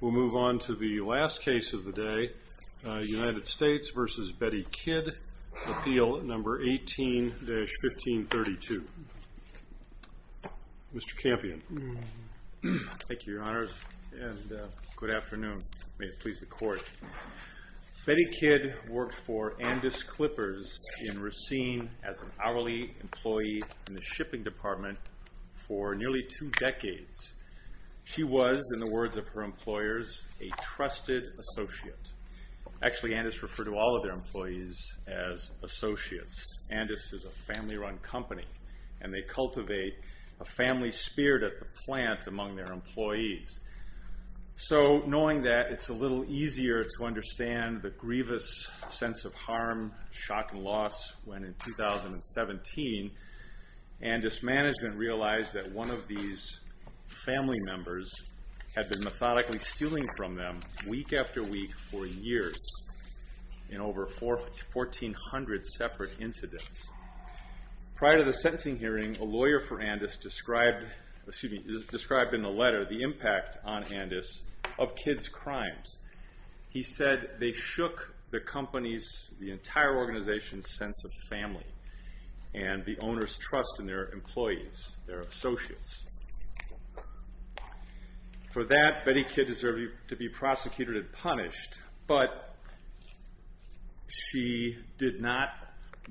We'll move on to the last case of the day, United States v. Bettye Kidd, Appeal No. 18-1532. Mr. Campion. Thank you, Your Honors, and good afternoon. May it please the Court. Bettye Kidd worked for Andis Clippers in Racine as an hourly employee in the shipping department for nearly two decades. She was, in the words of her employers, a trusted associate. Actually, Andis referred to all of their employees as associates. Andis is a family-run company, and they cultivate a family spirit at the plant among their employees. So, knowing that, it's a little easier to understand the grievous sense of harm, shock, and loss, when in 2017, Andis management realized that one of these family members had been methodically stealing from them week after week for years in over 1,400 separate incidents. Prior to the sentencing hearing, a lawyer for Andis described in a letter the impact on Andis of kids' crimes. He said they shook the company's, the entire organization's, sense of family and the owner's trust in their employees, their associates. For that, Bettye Kidd deserved to be prosecuted and punished, but she did not,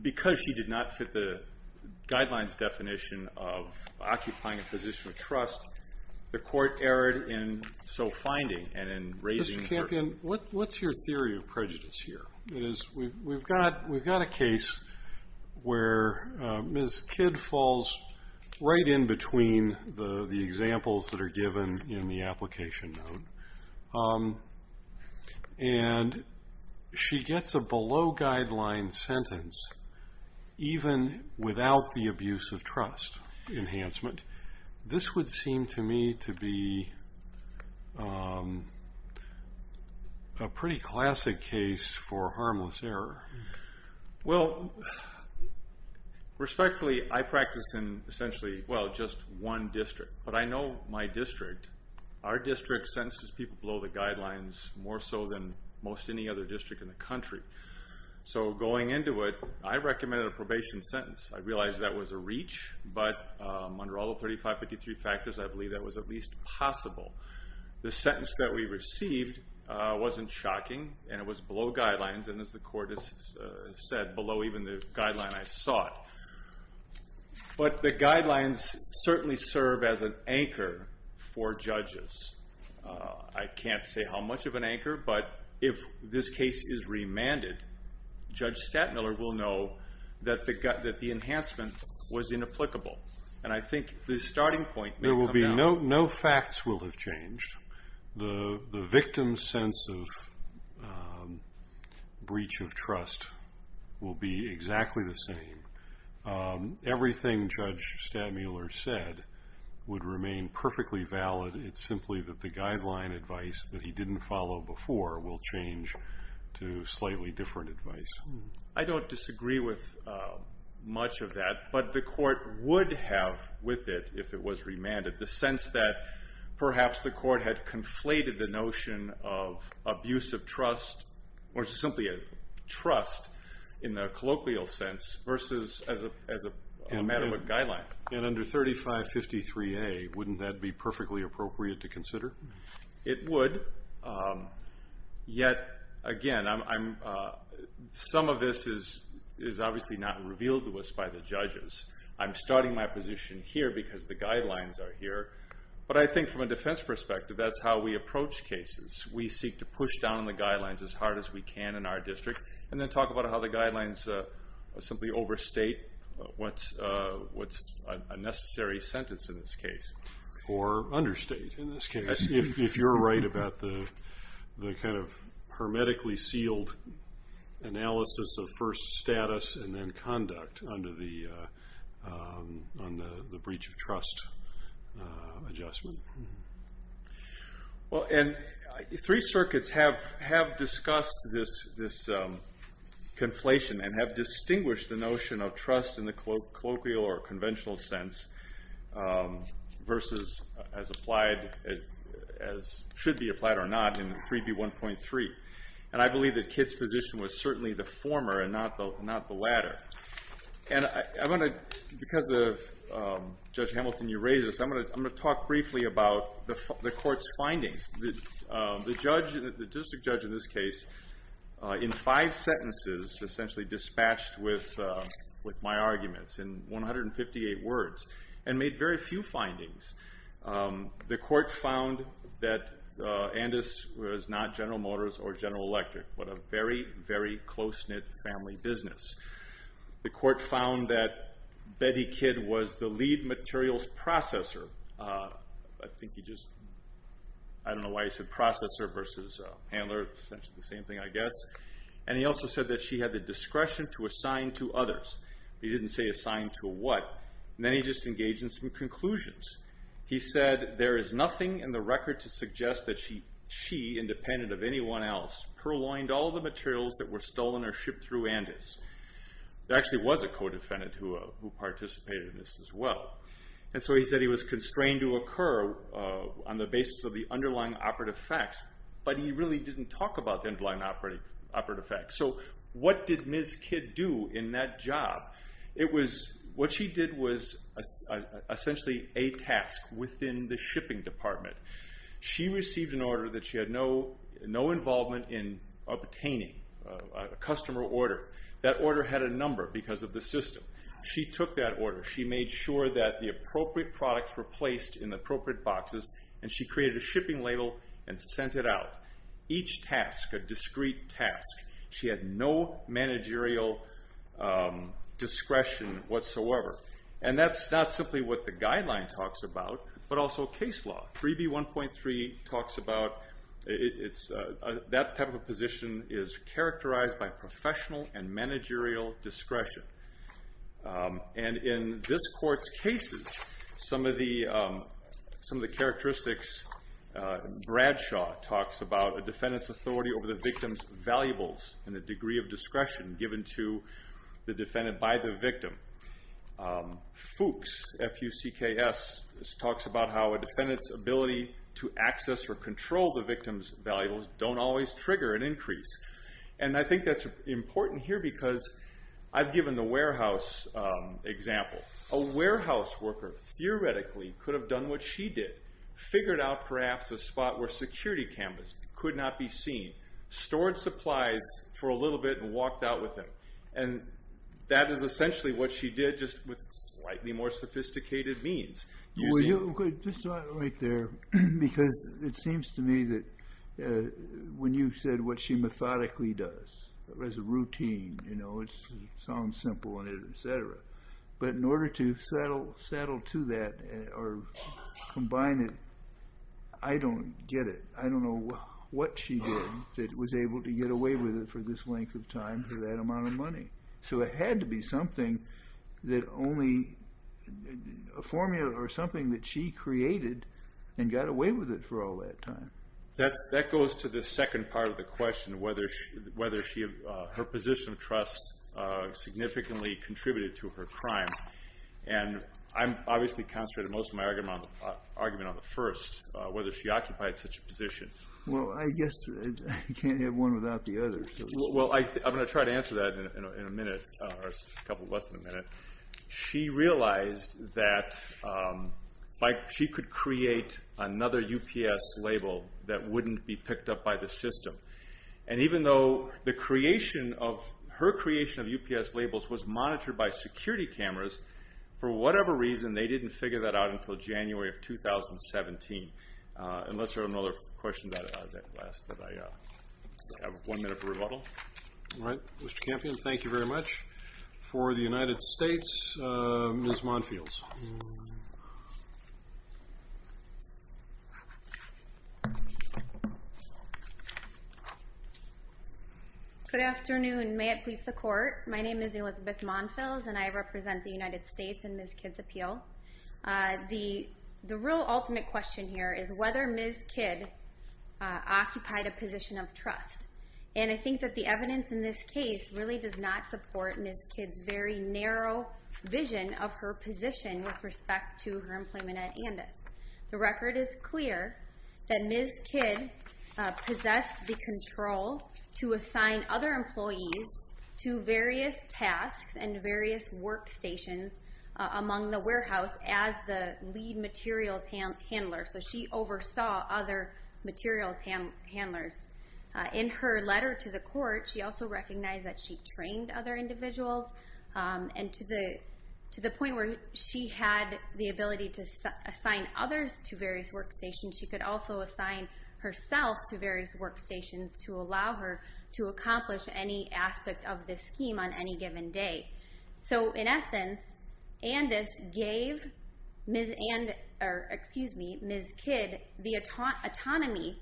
because she did not fit the guidelines definition of occupying a position of trust, the court erred in so finding and in raising her. Mr. Campion, what's your theory of prejudice here? We've got a case where Ms. Kidd falls right in between the examples that are given in the application note, and she gets a below-guideline sentence even without the abuse of trust enhancement. This would seem to me to be a pretty classic case for harmless error. Well, respectfully, I practice in essentially, well, just one district, but I know my district. Our district sentences people below the guidelines more so than most any other district in the country. So going into it, I recommended a probation sentence. I realize that was a reach, but under all of 3553 factors, I believe that was at least possible. The sentence that we received wasn't shocking, and it was below guidelines, and as the court has said, below even the guideline I sought. But the guidelines certainly serve as an anchor for judges. I can't say how much of an anchor, but if this case is remanded, Judge Stattmiller will know that the enhancement was inapplicable, and I think the starting point may come down. There will be no facts will have changed. The victim's sense of breach of trust will be exactly the same. Everything Judge Stattmiller said would remain perfectly valid. It's simply that the guideline advice that he didn't follow before will change to slightly different advice. I don't disagree with much of that, but the court would have with it, if it was remanded, the sense that perhaps the court had conflated the notion of abusive trust, or simply a trust in the colloquial sense, versus as a matter of a guideline. And under 3553A, wouldn't that be perfectly appropriate to consider? It would. Yet, again, some of this is obviously not revealed to us by the judges. I'm starting my position here because the guidelines are here. But I think from a defense perspective, that's how we approach cases. We seek to push down on the guidelines as hard as we can in our district, and then talk about how the guidelines simply overstate what's a necessary sentence in this case. Or understate, in this case, if you're right about the kind of hermetically sealed analysis of first status and then conduct under the breach of trust adjustment. Three circuits have discussed this conflation and have distinguished the notion of trust in the colloquial or conventional sense versus as should be applied or not in 3B1.3. And I believe that Kitt's position was certainly the former and not the latter. And because of Judge Hamilton, you raised this, I'm going to talk briefly about the court's findings. The district judge in this case, in five sentences, essentially dispatched with my arguments in 158 words and made very few findings. The court found that Andis was not General Motors or General Electric, but a very, very close-knit family business. The court found that Betty Kitt was the lead materials processor. I don't know why I said processor versus handler, essentially the same thing, I guess. And he also said that she had the discretion to assign to others. He didn't say assign to what. And then he just engaged in some conclusions. He said, there is nothing in the record to suggest that she, independent of anyone else, purloined all the materials that were stolen or shipped through Andis. There actually was a co-defendant who participated in this as well. And so he said he was constrained to occur on the basis of the underlying operative facts, but he really didn't talk about the underlying operative facts. So what did Ms. Kitt do in that job? What she did was essentially a task within the shipping department. She received an order that she had no involvement in obtaining, a customer order. That order had a number because of the system. She took that order. She made sure that the appropriate products were placed in the appropriate boxes, and she created a shipping label and sent it out. Each task, a discrete task, she had no managerial discretion whatsoever. And that's not simply what the guideline talks about, but also case law. 3B1.3 talks about that type of a position is characterized by professional and managerial discretion. And in this court's cases, some of the characteristics, Bradshaw talks about a defendant's authority over the victim's valuables and the degree of discretion given to the defendant by the victim. Fuchs, F-U-C-K-S, talks about how a defendant's ability to access or control the victim's valuables don't always trigger an increase. And I think that's important here because I've given the warehouse example. A warehouse worker theoretically could have done what she did, figured out perhaps a spot where security cameras could not be seen, stored supplies for a little bit, and walked out with them. And that is essentially what she did, just with slightly more sophisticated means. Well, just right there, because it seems to me that when you said what she methodically does as a routine, you know, it sounds simple and et cetera. But in order to saddle to that or combine it, I don't get it. I don't know what she did that was able to get away with it for this length of time for that amount of money. So it had to be something that only a formula or something that she created and got away with it for all that time. That goes to the second part of the question, whether her position of trust significantly contributed to her crime. And I'm obviously concentrating most of my argument on the first, whether she occupied such a position. Well, I guess I can't have one without the other. Well, I'm going to try to answer that in a minute, or a couple of us in a minute. She realized that she could create another UPS label that wouldn't be picked up by the system. And even though her creation of UPS labels was monitored by security cameras, for whatever reason, they didn't figure that out until January of 2017. Unless there are other questions that I have one minute for rebuttal. All right. Mr. Campion, thank you very much. For the United States, Ms. Monfields. Good afternoon. May it please the Court. My name is Elizabeth Monfields, and I represent the United States in Ms. Kidd's appeal. The real ultimate question here is whether Ms. Kidd occupied a position of trust. And I think that the evidence in this case really does not support Ms. Kidd's very narrow vision of her position with respect to her employment at Andis. The record is clear that Ms. Kidd possessed the control to assign other employees to various tasks and various workstations among the warehouse as the lead materials handler. So she oversaw other materials handlers. In her letter to the Court, she also recognized that she trained other individuals. And to the point where she had the ability to assign others to various workstations, she could also assign herself to various workstations to allow her to accomplish any aspect of this scheme on any given day. So, in essence, Andis gave Ms. Kidd the autonomy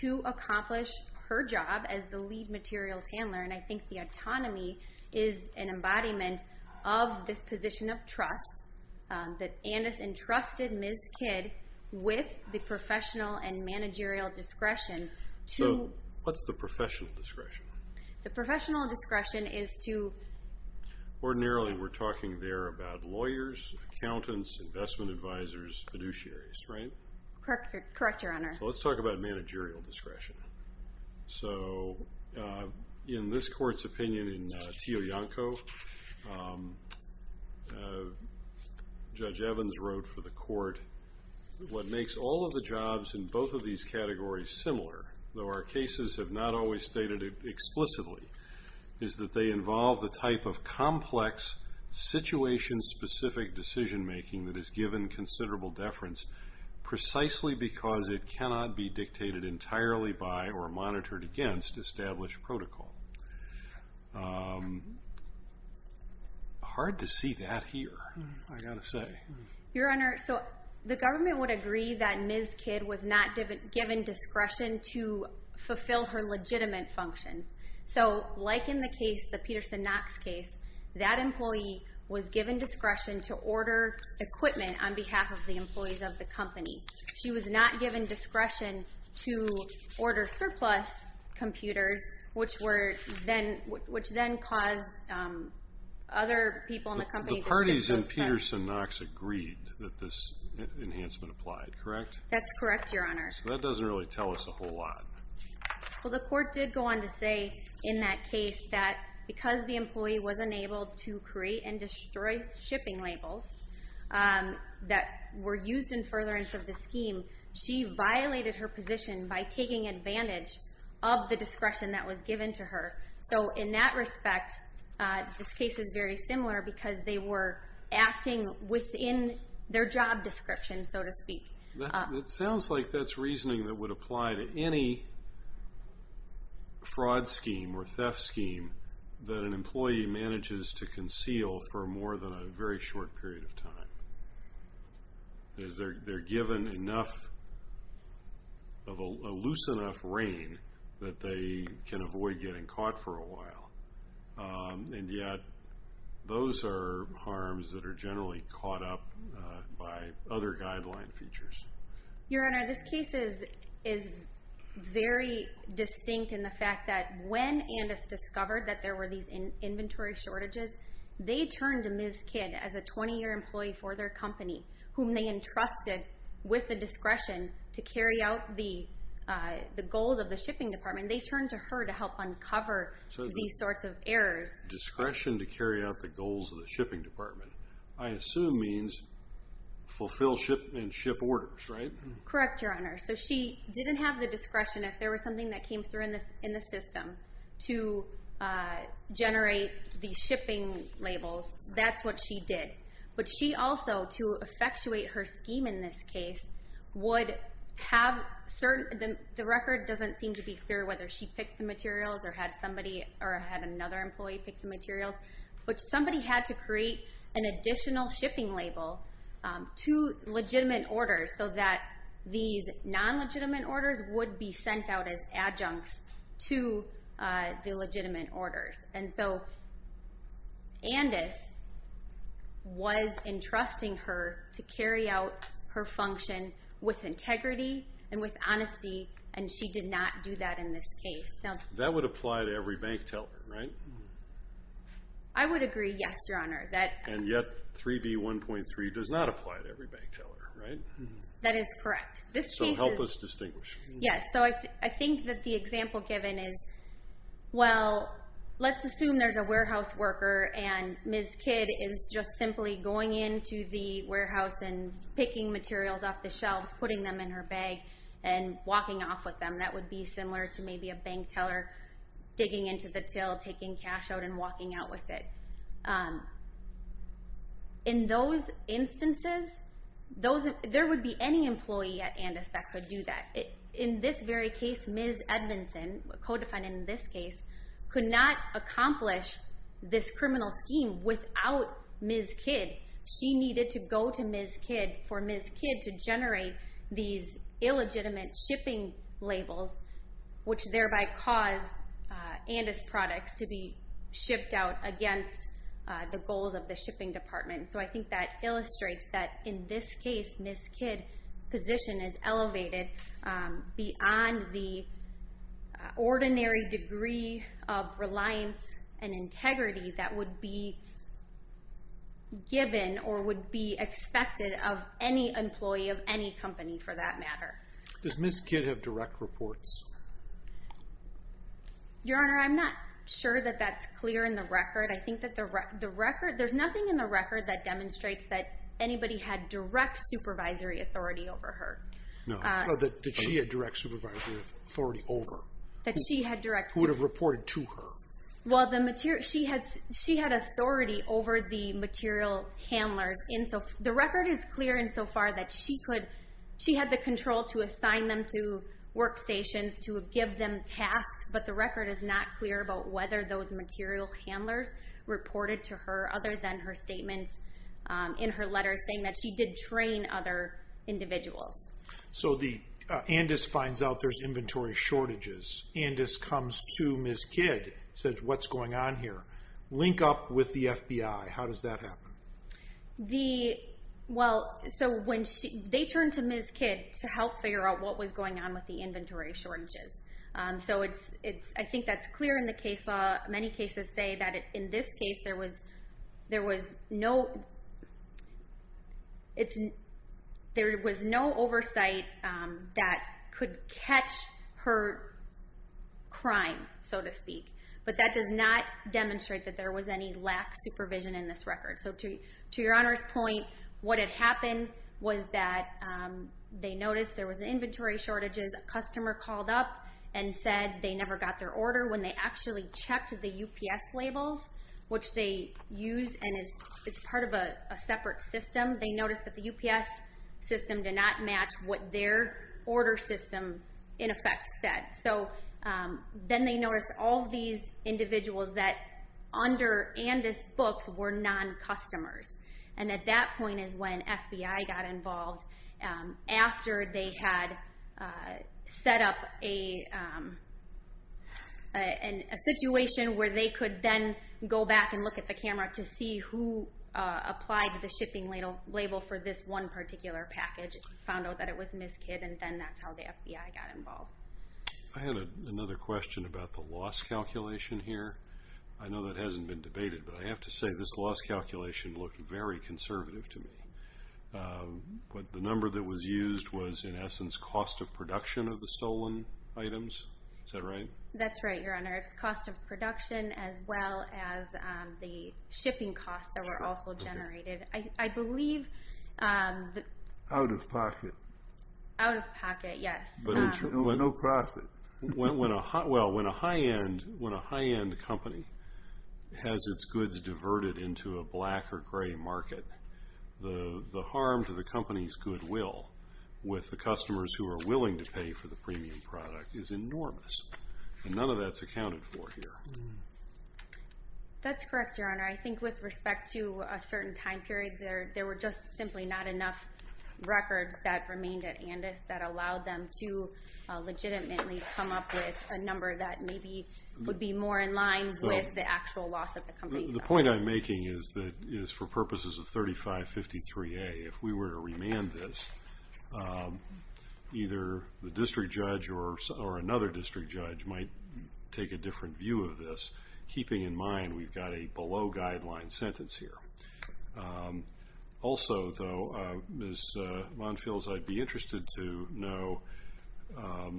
to accomplish her job as the lead materials handler, and I think the autonomy is an embodiment of this position of trust that Andis entrusted Ms. Kidd with the professional and managerial discretion to... So, what's the professional discretion? The professional discretion is to... Ordinarily, we're talking there about lawyers, accountants, investment advisors, fiduciaries, right? Correct, Your Honor. So let's talk about managerial discretion. So, in this Court's opinion in Tio Yanko, Judge Evans wrote for the Court, what makes all of the jobs in both of these categories similar, though our cases have not always stated it explicitly, is that they involve the type of complex, situation-specific decision-making that is given considerable deference precisely because it cannot be dictated entirely by or monitored against established protocol. Hard to see that here, I've got to say. Your Honor, so the government would agree that Ms. Kidd was not given discretion to fulfill her legitimate functions. So, like in the case, the Peterson-Knox case, that employee was given discretion to order equipment on behalf of the employees of the company. She was not given discretion to order surplus computers, which then caused other people in the company to... The parties in Peterson-Knox agreed that this enhancement applied, correct? That's correct, Your Honor. So that doesn't really tell us a whole lot. Well, the Court did go on to say in that case that because the employee was unable to create and destroy shipping labels that were used in furtherance of the scheme, she violated her position by taking advantage of the discretion that was given to her. So, in that respect, this case is very similar because they were acting within their job description, so to speak. It sounds like that's reasoning that would apply to any fraud scheme or theft scheme that an employee manages to conceal for more than a very short period of time. They're given enough of a loose enough rein that they can avoid getting caught for a while. And yet, those are harms that are generally caught up by other guideline features. Your Honor, this case is very distinct in the fact that when Andis discovered that there were these inventory shortages, they turned to Ms. Kidd as a 20-year employee for their company, whom they entrusted with the discretion to carry out the goals of the shipping department. And they turned to her to help uncover these sorts of errors. Discretion to carry out the goals of the shipping department, I assume means fulfill ship orders, right? Correct, Your Honor. So, she didn't have the discretion, if there was something that came through in the system, to generate the shipping labels. That's what she did. But she also, to effectuate her scheme in this case, would have certain... The record doesn't seem to be clear whether she picked the materials or had another employee pick the materials. But somebody had to create an additional shipping label to legitimate orders so that these non-legitimate orders would be sent out as adjuncts to the legitimate orders. And so, Andis was entrusting her to carry out her function with integrity and with honesty, and she did not do that in this case. That would apply to every bank teller, right? I would agree, yes, Your Honor. And yet, 3B1.3 does not apply to every bank teller, right? That is correct. So, help us distinguish. Yes. So, I think that the example given is, well, let's assume there's a warehouse worker, and Ms. Kidd is just simply going into the warehouse and picking materials off the shelves, putting them in her bag, and walking off with them. That would be similar to maybe a bank teller digging into the till, taking cash out, and walking out with it. In those instances, there would be any employee at Andis that could do that. In this very case, Ms. Edmondson, co-defined in this case, could not accomplish this criminal scheme without Ms. Kidd. She needed to go to Ms. Kidd for Ms. Kidd to generate these illegitimate shipping labels, which thereby caused Andis products to be shipped out against the goals of the shipping department. So, I think that illustrates that, in this case, Ms. Kidd's position is elevated beyond the ordinary degree of reliance and integrity that would be given or would be expected of any employee of any company, for that matter. Does Ms. Kidd have direct reports? Your Honor, I'm not sure that that's clear in the record. I think that there's nothing in the record that demonstrates that anybody had direct supervisory authority over her. No. No, that she had direct supervisory authority over. That she had direct... Who would have reported to her. Well, she had authority over the material handlers. The record is clear insofar that she had the control to assign them to workstations, to give them tasks, but the record is not clear about whether those material handlers reported to her, other than her statements in her letter saying that she did train other individuals. So, Andis finds out there's inventory shortages. Andis comes to Ms. Kidd, says, what's going on here? Link up with the FBI. How does that happen? Well, they turned to Ms. Kidd to help figure out what was going on with the inventory shortages. So, I think that's clear in the case law. Many cases say that in this case there was no oversight that could catch her crime, so to speak. But that does not demonstrate that there was any lax supervision in this record. So, to your Honor's point, what had happened was that they noticed there was an inventory shortage. A customer called up and said they never got their order. When they actually checked the UPS labels, which they use, and it's part of a separate system, they noticed that the UPS system did not match what their order system, in effect, said. So, then they noticed all these individuals that under Andis books were non-customers. And at that point is when FBI got involved after they had set up a situation where they could then go back and look at the camera to see who applied the shipping label for this one particular package. Which found out that it was Ms. Kidd, and then that's how the FBI got involved. I had another question about the loss calculation here. I know that hasn't been debated, but I have to say this loss calculation looked very conservative to me. But the number that was used was, in essence, cost of production of the stolen items. Is that right? That's right, Your Honor. It's cost of production as well as the shipping costs that were also generated. Out-of-pocket. Out-of-pocket, yes. No profit. Well, when a high-end company has its goods diverted into a black or gray market, the harm to the company's goodwill with the customers who are willing to pay for the premium product is enormous. And none of that's accounted for here. That's correct, Your Honor. I think with respect to a certain time period, there were just simply not enough records that remained at Andis that allowed them to legitimately come up with a number that maybe would be more in line with the actual loss of the company. The point I'm making is that for purposes of 3553A, if we were to remand this, either the district judge or another district judge might take a different view of this, keeping in mind we've got a below-guideline sentence here. Also, though, Ms. Monfils, I'd be interested to know, I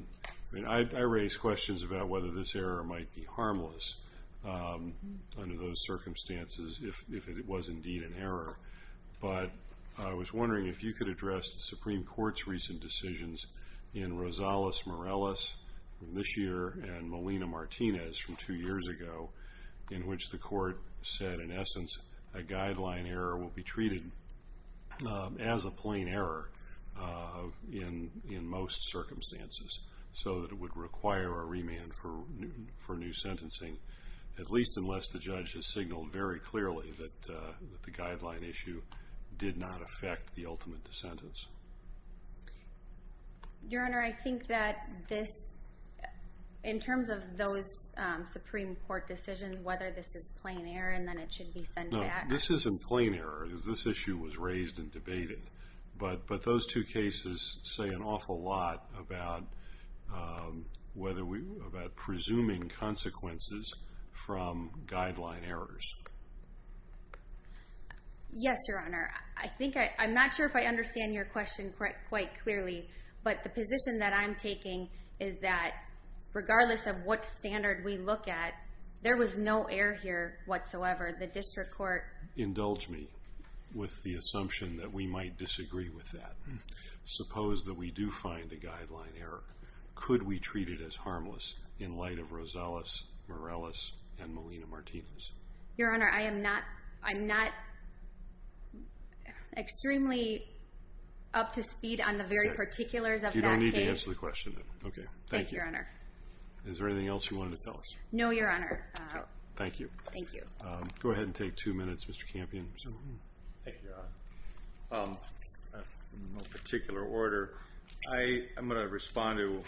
mean, I raise questions about whether this error might be harmless under those circumstances if it was indeed an error. But I was wondering if you could address the Supreme Court's recent decisions in Rosales-Morales, this year, and Molina-Martinez from two years ago, in which the Court said, in essence, a guideline error will be treated as a plain error in most circumstances so that it would require a remand for new sentencing, at least unless the judge has signaled very clearly that the guideline issue did not affect the ultimate sentence. Your Honor, I think that this, in terms of those Supreme Court decisions, whether this is plain error and then it should be sent back. No, this isn't plain error, because this issue was raised and debated. But those two cases say an awful lot about presuming consequences from guideline errors. Yes, Your Honor. I'm not sure if I understand your question quite clearly, but the position that I'm taking is that regardless of what standard we look at, there was no error here whatsoever. The district court... Indulge me with the assumption that we might disagree with that. Suppose that we do find a guideline error. Could we treat it as harmless in light of Rosales-Morales and Molina-Martinez? Your Honor, I am not extremely up to speed on the very particulars of that case. You don't need to answer the question then. Okay, thank you. Thank you, Your Honor. Is there anything else you wanted to tell us? No, Your Honor. Thank you. Thank you. Go ahead and take two minutes, Mr. Campion. Thank you, Your Honor. In no particular order, I'm going to respond to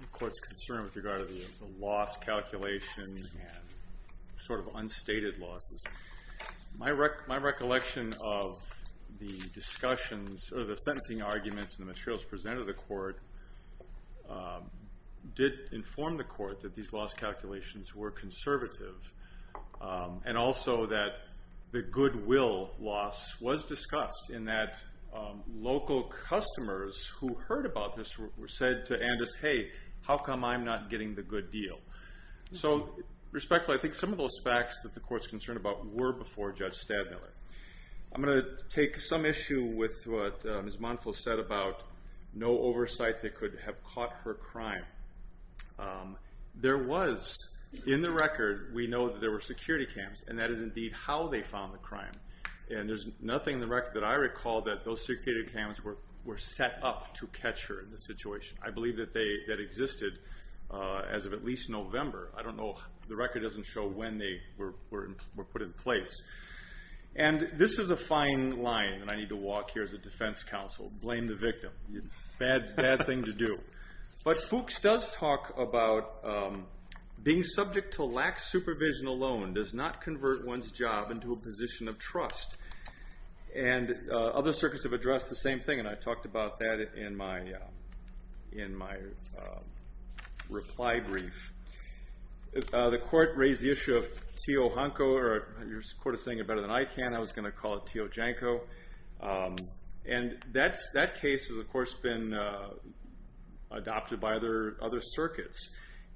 the court's concern with regard to the loss calculation and sort of unstated losses. My recollection of the discussions or the sentencing arguments and the materials presented to the court did inform the court that these loss calculations were conservative and also that the goodwill loss was discussed in that local customers who heard about this said to Andis, hey, how come I'm not getting the good deal? So, respectfully, I think some of those facts that the court's concerned about were before Judge Stadmiller. I'm going to take some issue with what Ms. Montville said about no oversight that could have caught her crime. There was, in the record, we know that there were security cams, and that is indeed how they found the crime. And there's nothing in the record that I recall that those security cams were set up to catch her in this situation. I believe that existed as of at least November. I don't know. The record doesn't show when they were put in place. And this is a fine line, and I need to walk here as a defense counsel. Blame the victim. Bad thing to do. But Fuchs does talk about being subject to lax supervision alone does not convert one's job into a position of trust. And other circuits have addressed the same thing, and I talked about that in my reply brief. The court raised the issue of Tio Honko, or your court is saying it better than I can. I was going to call it Tio Janko. And that case has, of course, been adopted by other circuits.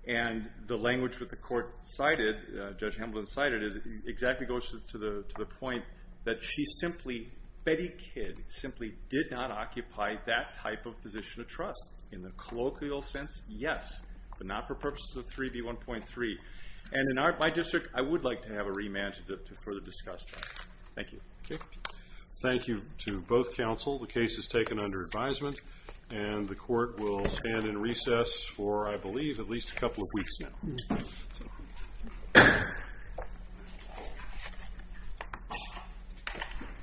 And the language that the court cited, Judge Hamblin cited, exactly goes to the point that she simply, Betty Kidd, simply did not occupy that type of position of trust. In the colloquial sense, yes, but not for purposes of 3B1.3. And in my district, I would like to have a remand to further discuss that. Thank you. Thank you to both counsel. The case is taken under advisement. And the court will stand in recess for, I believe, at least a couple of weeks now.